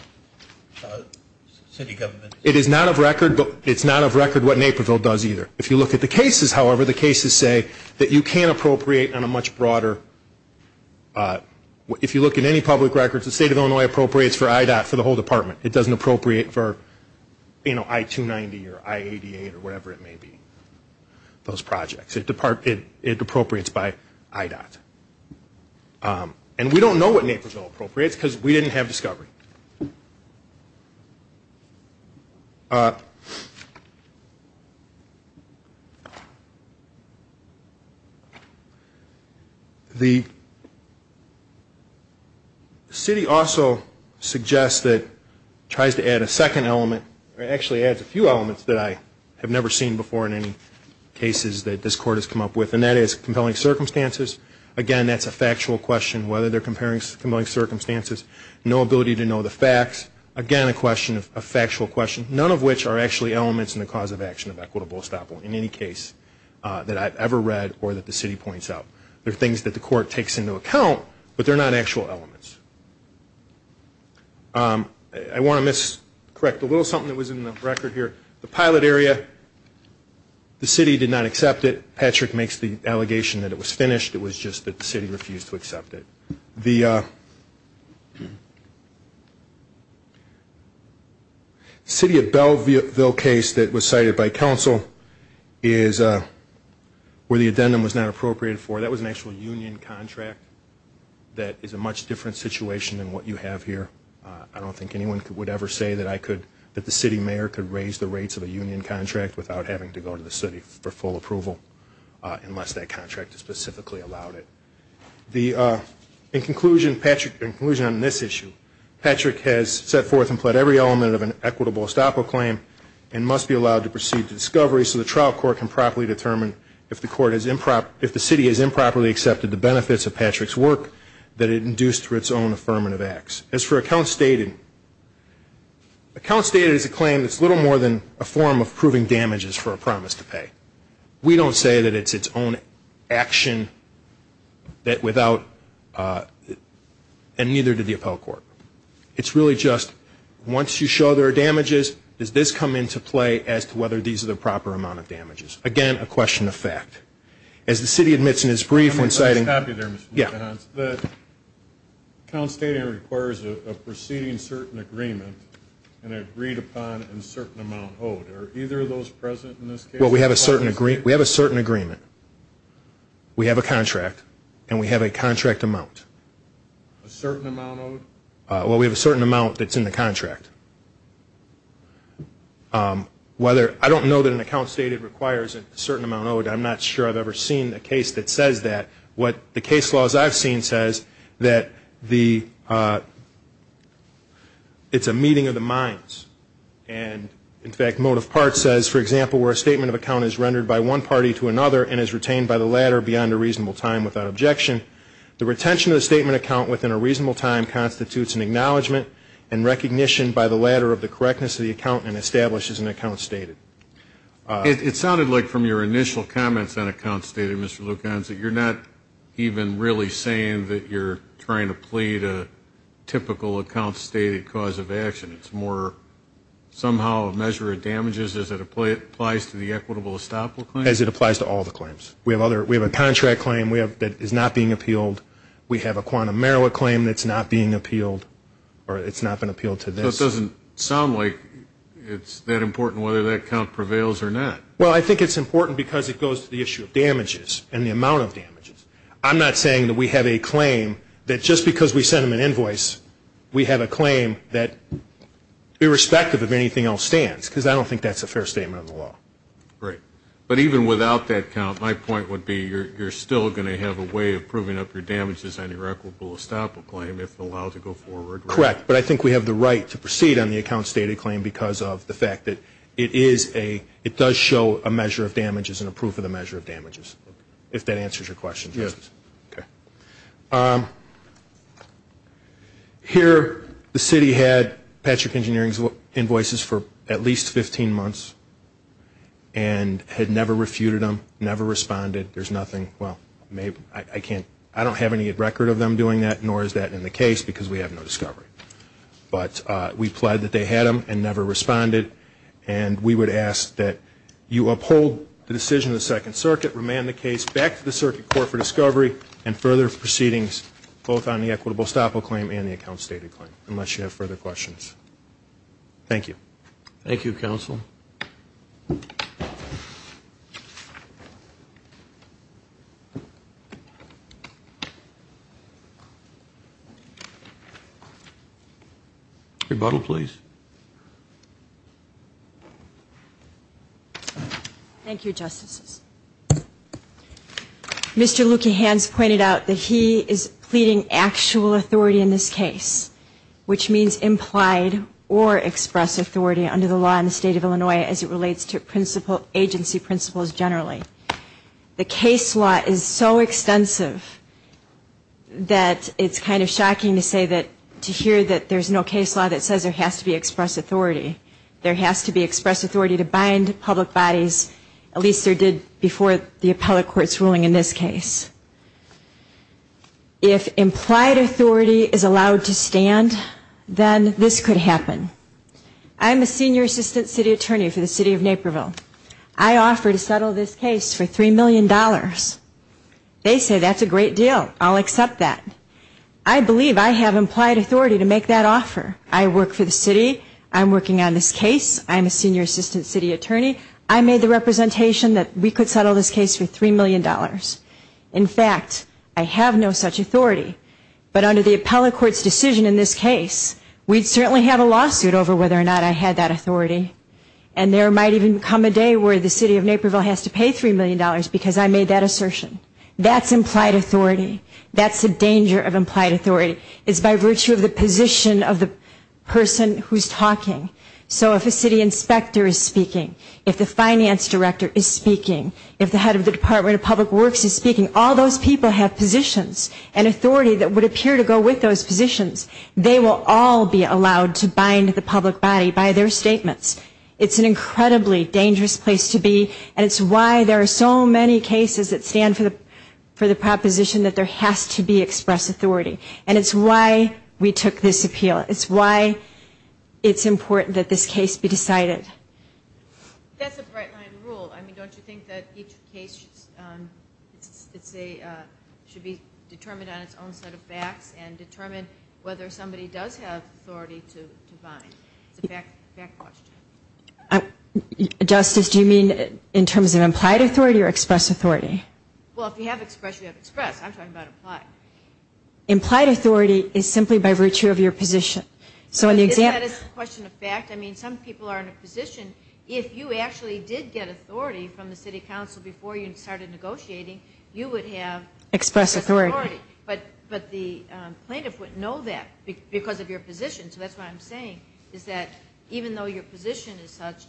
city governments? It is not of record, but it's not of record what Naperville does either. If you look at the cases, however, the cases say that you can appropriate on a much broader, if you look at any public records, the state of Illinois appropriates for IDOT, for the whole department. It doesn't appropriate for, you know, I-290 or I-88 or whatever it may be, those projects. It appropriates by IDOT. And we don't know what Naperville appropriates because we didn't have discovery. The city also suggests that, tries to add a second element, or actually adds a few elements that I have never seen before in any cases that this court has come up with, and that is compelling circumstances. Again, that's a factual question, whether they're compelling circumstances. No ability to know the facts. Again, a question, a factual question, none of which are actually elements in the cause of action of equitable estoppel in any case that I've ever read or that the city points out. They're things that the court takes into account, but they're not actual elements. I want to miscorrect a little something that was in the record here. The pilot area, the city did not accept it. Patrick makes the allegation that it was finished. It was just that the city refused to accept it. The city of Belleville case that was cited by counsel is where the addendum was not appropriated for. That was an actual union contract that is a much different situation than what you have here. I don't think anyone would ever say that I could, that the city mayor could raise the rates of a union contract without having to go to the city for full approval unless that contract specifically allowed it. In conclusion on this issue, Patrick has set forth and pled every element of an equitable estoppel claim and must be allowed to proceed to discovery so the trial court can properly determine if the city has improperly accepted the benefits of Patrick's work that it induced through its own affirmative acts. As for account stated, account stated is a claim that's little more than a form of proving damages for a promise to pay. We don't say that it's its own action and neither did the appellate court. It's really just once you show there are damages, does this come into play as to whether these are the proper amount of damages? Again, a question of fact. As the city admits in its brief when citing... Account stating requires a proceeding certain agreement and agreed upon in certain amount owed. Are either of those present in this case? Well, we have a certain agreement. We have a contract and we have a contract amount. A certain amount owed? Well, we have a certain amount that's in the contract. I don't know that an account stated requires a certain amount owed. I'm not sure I've ever seen a case that says that. What the case laws I've seen says that it's a meeting of the minds. And, in fact, motive part says, for example, where a statement of account is rendered by one party to another and is retained by the latter beyond a reasonable time without objection, the retention of the statement of account within a reasonable time constitutes an acknowledgment and recognition by the latter of the correctness of the account and establishes an account stated. It sounded like from your initial comments on account stated, Mr. Lucanzi, you're not even really saying that you're trying to plead a typical account stated cause of action. It's more somehow a measure of damages as it applies to the equitable estoppel claim? As it applies to all the claims. We have a contract claim that is not being appealed. We have a quantum merit claim that's not being appealed or it's not been appealed to this. So it doesn't sound like it's that important whether that account prevails or not. Well, I think it's important because it goes to the issue of damages and the amount of damages. I'm not saying that we have a claim that just because we send them an invoice, we have a claim that irrespective of anything else stands because I don't think that's a fair statement of the law. Great. But even without that account, my point would be you're still going to have a way of proving up your damages on your equitable estoppel claim if allowed to go forward, right? Correct. But I think we have the right to proceed on the account stated claim because of the fact that it is a, it does show a measure of damages and a proof of the measure of damages, if that answers your question. Yes. Okay. Here, the city had Patrick Engineering's invoices for at least 15 months and had never refuted them, never responded. There's nothing, well, I don't have any record of them doing that, nor is that in the case because we have no discovery. But we pled that they had them and never responded, and we would ask that you uphold the decision of the Second Circuit, remand the case back to the Circuit Court for discovery, and further proceedings both on the equitable estoppel claim and the account stated claim, unless you have further questions. Thank you. Thank you, Counsel. Rebuttal, please. Thank you, Justices. Mr. Luekehans pointed out that he is pleading actual authority in this case, which means implied or express authority under the law in the State of Illinois as it relates to agency principles generally. The case law is so extensive that it's kind of shocking to say that to hear that there's no case law that says there has to be express authority. There has to be express authority to bind public bodies, at least there did before the appellate court's ruling in this case. If implied authority is allowed to stand, then this could happen. I'm a senior assistant city attorney for the City of Naperville. I offer to settle this case for $3 million. They say that's a great deal. I'll accept that. I believe I have implied authority to make that offer. I work for the city. I'm working on this case. I'm a senior assistant city attorney. I made the representation that we could settle this case for $3 million. In fact, I have no such authority. But under the appellate court's decision in this case, we'd certainly have a lawsuit over whether or not I had that authority. And there might even come a day where the City of Naperville has to pay $3 million because I made that assertion. That's implied authority. That's the danger of implied authority. It's by virtue of the position of the person who's talking. So if a city inspector is speaking, if the finance director is speaking, if the head of the Department of Public Works is speaking, all those people have positions and authority that would appear to go with those positions. They will all be allowed to bind the public body by their statements. It's an incredibly dangerous place to be, and it's why there are so many cases that stand for the proposition that there has to be express authority. And it's why we took this appeal. It's why it's important that this case be decided. That's a bright-line rule. I mean, don't you think that each case should be determined on its own set of facts and determine whether somebody does have authority to bind? It's a fact question. Justice, do you mean in terms of implied authority or express authority? Well, if you have express, you have express. I'm talking about implied. Implied authority is simply by virtue of your position. So in the example of fact, I mean, some people are in a position, if you actually did get authority from the city council before you started negotiating, you would have express authority. But the plaintiff wouldn't know that because of your position. So that's what I'm saying, is that even though your position is such,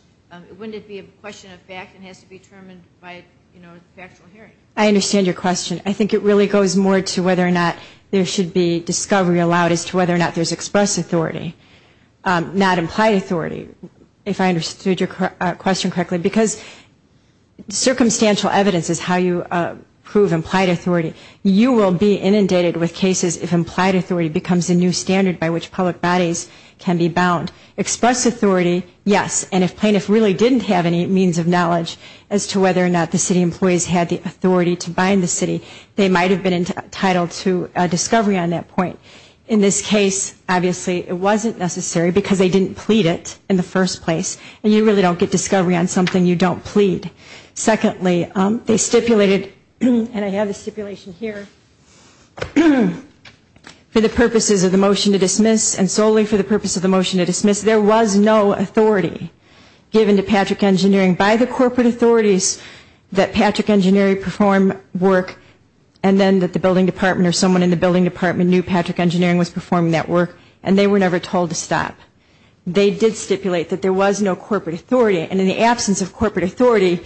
wouldn't it be a question of fact and has to be determined by, you know, factual hearing? I understand your question. I think it really goes more to whether or not there should be discovery allowed as to whether or not there's express authority, not implied authority, if I understood your question correctly. Because circumstantial evidence is how you prove implied authority. You will be inundated with cases if implied authority becomes a new standard by which public bodies can be bound. Express authority, yes. And if plaintiffs really didn't have any means of knowledge as to whether or not the city employees had the authority to bind the city, they might have been entitled to discovery on that point. In this case, obviously, it wasn't necessary because they didn't plead it in the first place. And you really don't get discovery on something you don't plead. Secondly, they stipulated, and I have the stipulation here, for the purposes of the motion to dismiss and solely for the purpose of the motion to dismiss, there was no authority given to Patrick Engineering by the corporate authorities that Patrick Engineering perform work and then that the building department or someone in the building department knew Patrick Engineering was performing that work and they were never told to stop. They did stipulate that there was no corporate authority. And in the absence of corporate authority,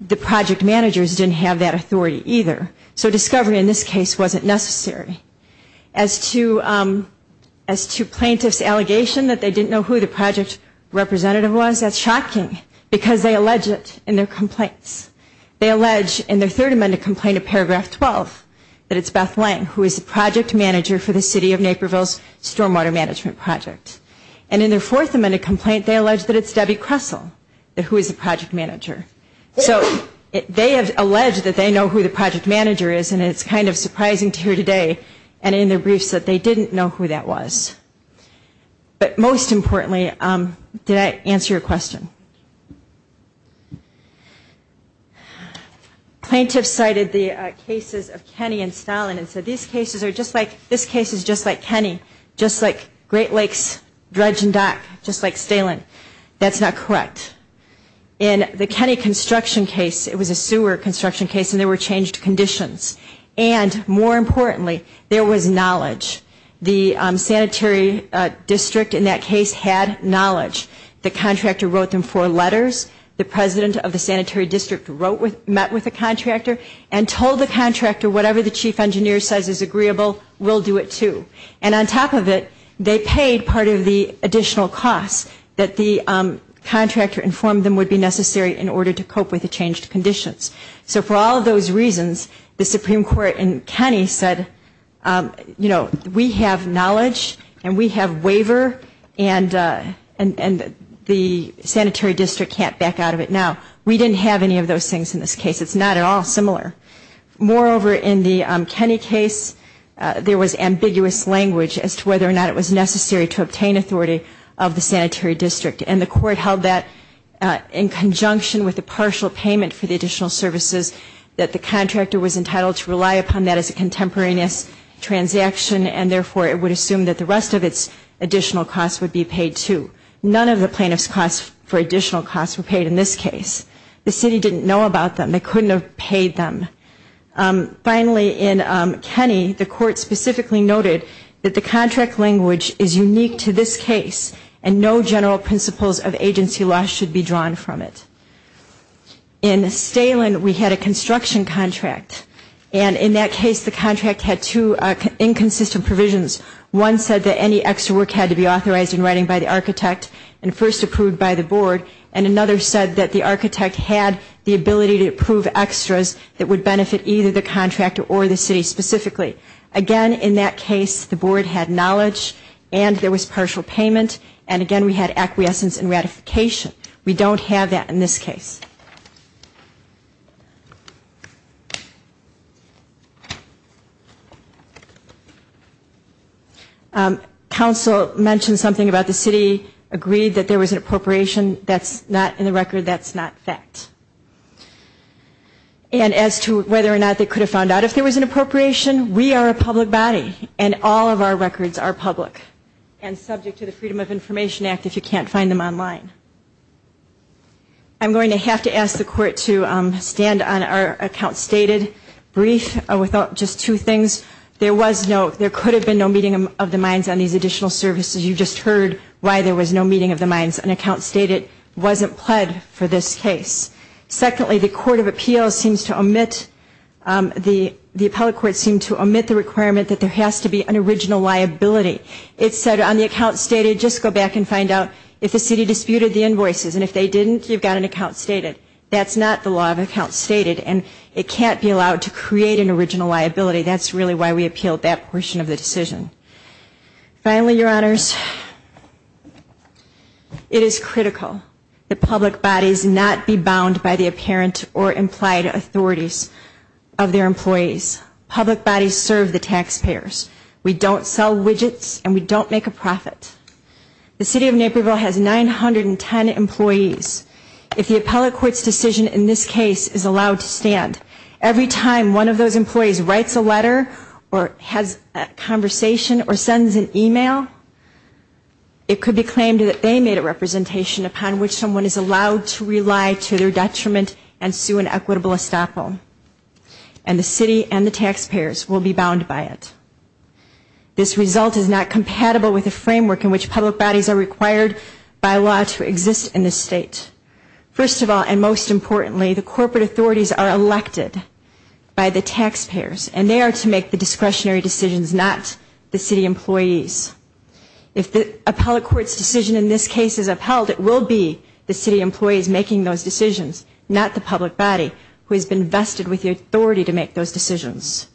the project managers didn't have that authority either. So discovery in this case wasn't necessary. As to plaintiffs' allegation that they didn't know who the project representative was, that's shocking because they allege it in their complaints. They allege in their third amended complaint of paragraph 12 that it's Beth Lang, who is the project manager for the city of Naperville's stormwater management project. And in their fourth amended complaint, they allege that it's Debbie Kressel, who is the project manager. So they have alleged that they know who the project manager is and it's kind of surprising to hear today and in their briefs that they didn't know who that was. But most importantly, did I answer your question? Plaintiffs cited the cases of Kenny and Stalin and said, this case is just like Kenny, just like Great Lakes dredge and dock, just like Stalin. That's not correct. In the Kenny construction case, it was a sewer construction case and there were changed conditions. And more importantly, there was knowledge. The sanitary district in that case had knowledge. The contractor wrote them four letters. The president of the sanitary district met with the contractor and told the contractor whatever the chief engineer says is agreeable, we'll do it too. And on top of it, they paid part of the additional costs that the contractor informed them would be necessary in order to cope with the changed conditions. So for all of those reasons, the Supreme Court in Kenny said, you know, we have knowledge and we have waiver and the sanitary district can't back out of it now. We didn't have any of those things in this case. It's not at all similar. Moreover, in the Kenny case, there was ambiguous language as to whether or not it was necessary to obtain authority of the sanitary district. And the court held that in conjunction with the partial payment for the additional services that the contractor was entitled to rely upon that as a contemporaneous transaction and therefore it would assume that the rest of its additional costs would be paid too. None of the plaintiff's costs for additional costs were paid in this case. The city didn't know about them. They couldn't have paid them. Finally, in Kenny, the court specifically noted that the contract language is unique to this case and no general principles of agency loss should be drawn from it. In Stalen, we had a construction contract. And in that case, the contract had two inconsistent provisions. One said that any extra work had to be authorized in writing by the architect and first approved by the board. And another said that the architect had the ability to approve extras that would benefit either the contractor or the city specifically. Again, in that case, the board had knowledge and there was partial payment. And again, we had acquiescence and ratification. We don't have that in this case. Council mentioned something about the city agreed that there was an appropriation. That's not in the record. That's not fact. And as to whether or not they could have found out if there was an appropriation, we are a public body and all of our records are public and subject to the Freedom of Information Act if you can't find them online. I'm going to have to go back to my slides. I'm going to have to ask the court to stand on our account stated brief with just two things. There was no, there could have been no meeting of the minds on these additional services. You just heard why there was no meeting of the minds. An account stated wasn't pled for this case. Secondly, the court of appeals seems to omit, the appellate court seemed to omit the requirement that there has to be an original liability. It said on the account stated, just go back and find out if the city disputed the invoices. And if they didn't, you've got an account stated. That's not the law of accounts stated and it can't be allowed to create an original liability. That's really why we appealed that portion of the decision. Finally, Your Honors, it is critical that public bodies not be bound by the apparent or implied authorities of their employees. Public bodies serve the taxpayers. We don't sell widgets and we don't make a profit. The city of Naperville has 910 employees. If the appellate court's decision in this case is allowed to stand, every time one of those employees writes a letter or has a conversation or sends an email, it could be claimed that they made a representation upon which someone is allowed to rely to their detriment and sue an equitable estoppel. And the city and the taxpayers will be bound by it. This result is not compatible with the framework in which public bodies are required by law to exist in this state. First of all, and most importantly, the corporate authorities are elected by the taxpayers and they are to make the discretionary decisions, not the city employees. If the appellate court's decision in this case is upheld, it will be the city employees making those decisions, not the public body who has been vested with the authority to make those decisions.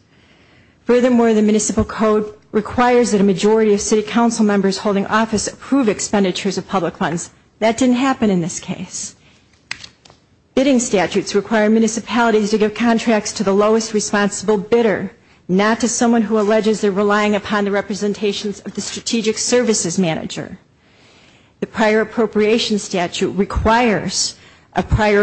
Furthermore, the municipal code requires that a majority of city council members holding office approve expenditures of public funds. That didn't happen in this case. Bidding statutes require municipalities to give contracts to the lowest responsible bidder, not to someone who alleges they're relying upon the representations of the strategic services manager. The prior appropriation statute requires a prior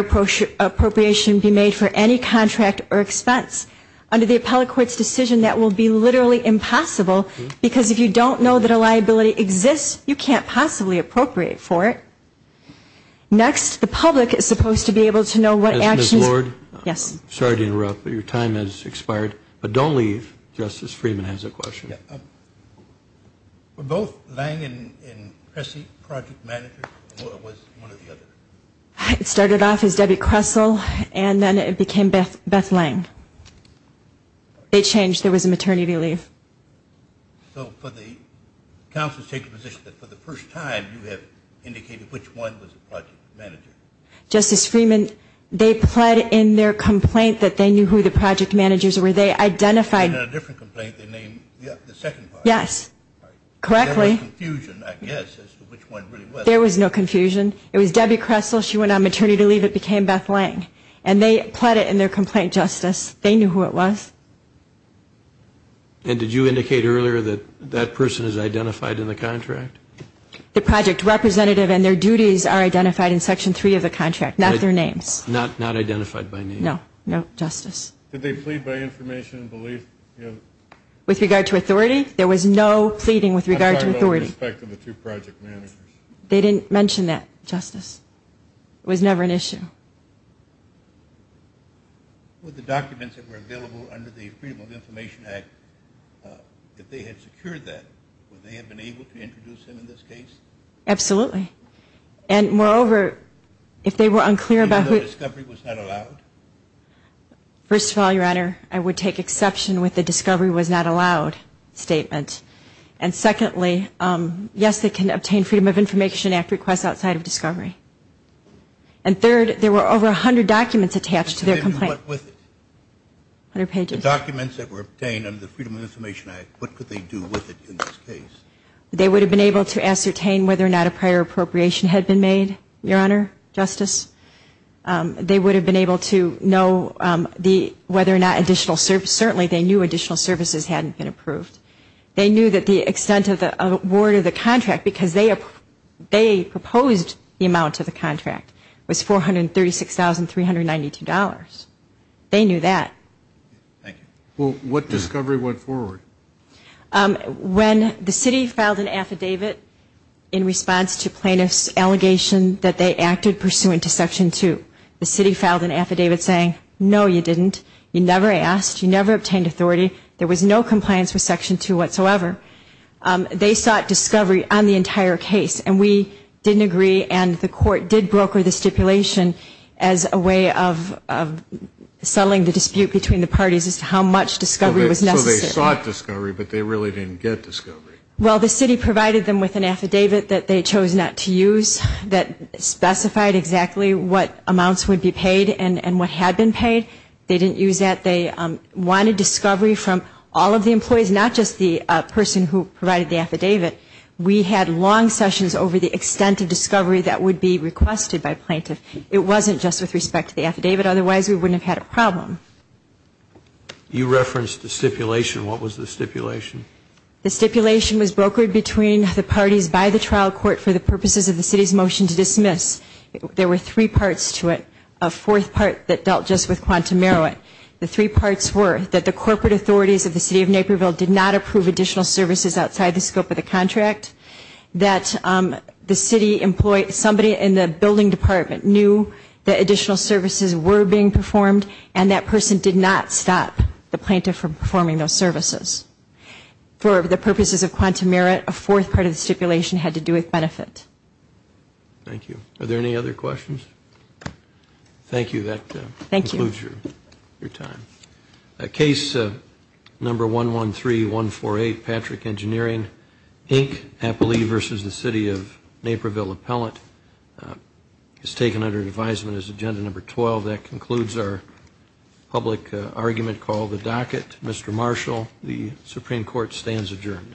appropriation be made for any contract or expense. Under the appellate court's decision, that will be literally impossible, because if you don't know that a liability exists, you can't possibly appropriate for it. Next, the public is supposed to be able to know what actions. Ms. Lord? Yes. Sorry to interrupt, but your time has expired. But don't leave. Justice Friedman has a question. Were both Lang and Pressey project managers, or was one of the others? It started off as Debbie Kressel, and then it became Beth Lang. They changed. There was a maternity leave. So for the council to take the position that for the first time you have indicated which one was the project manager? Justice Friedman, they pled in their complaint that they knew who the project managers were. They identified them. In a different complaint, they named the second one. Yes. Correctly. There was confusion, I guess, as to which one really was. There was no confusion. It was Debbie Kressel. She went on maternity leave. It became Beth Lang. And they pled it in their complaint, Justice. They knew who it was. And did you indicate earlier that that person is identified in the contract? The project representative and their duties are identified in Section 3 of the contract, not their names. Not identified by name? No. No, Justice. Did they plead by information and belief? With regard to authority? There was no pleading with regard to authority. I'm talking about with respect to the two project managers. They didn't mention that, Justice. It was never an issue. With the documents that were available under the Freedom of Information Act, if they had secured that, would they have been able to introduce him in this case? Absolutely. And, moreover, if they were unclear about who... Even though discovery was not allowed? First of all, Your Honor, I would take exception with the discovery was not allowed statement. And, secondly, yes, they can obtain Freedom of Information Act requests outside of discovery. And, third, there were over 100 documents attached to their complaint. And what with it? 100 pages. The documents that were obtained under the Freedom of Information Act, what could they do with it in this case? They would have been able to ascertain whether or not a prior appropriation had been made, Your Honor, Justice. They would have been able to know whether or not additional services, certainly they knew additional services hadn't been approved. They knew that the extent of the award of the contract, because they proposed the amount of the contract, was $436,392. They knew that. Thank you. Well, what discovery went forward? When the city filed an affidavit in response to plaintiff's allegation that they acted pursuant to Section 2, the city filed an affidavit saying, no, you didn't. You never asked. You never obtained authority. There was no compliance with Section 2 whatsoever. They sought discovery on the entire case. And we didn't agree, and the court did broker the stipulation as a way of settling the dispute between the parties as to how much discovery was necessary. So they sought discovery, but they really didn't get discovery. Well, the city provided them with an affidavit that they chose not to use that specified exactly what amounts would be paid and what had been paid. They didn't use that. They wanted discovery from all of the employees, not just the person who provided the affidavit. We had long sessions over the extent of discovery that would be requested by plaintiff. It wasn't just with respect to the affidavit. Otherwise, we wouldn't have had a problem. You referenced the stipulation. What was the stipulation? The stipulation was brokered between the parties by the trial court for the purposes of the city's motion to dismiss. There were three parts to it. A fourth part that dealt just with quantum merit. The three parts were that the corporate authorities of the city of Naperville did not approve additional services outside the scope of the contract, that somebody in the building department knew that additional services were being performed, and that person did not stop the plaintiff from performing those services. For the purposes of quantum merit, a fourth part of the stipulation had to do with benefit. Thank you. Are there any other questions? Thank you. That concludes your time. Case number 113148, Patrick Engineering, Inc., Napoli v. the City of Naperville Appellant is taken under advisement as agenda number 12. That concludes our public argument call to the docket. Mr. Marshall, the Supreme Court stands adjourned.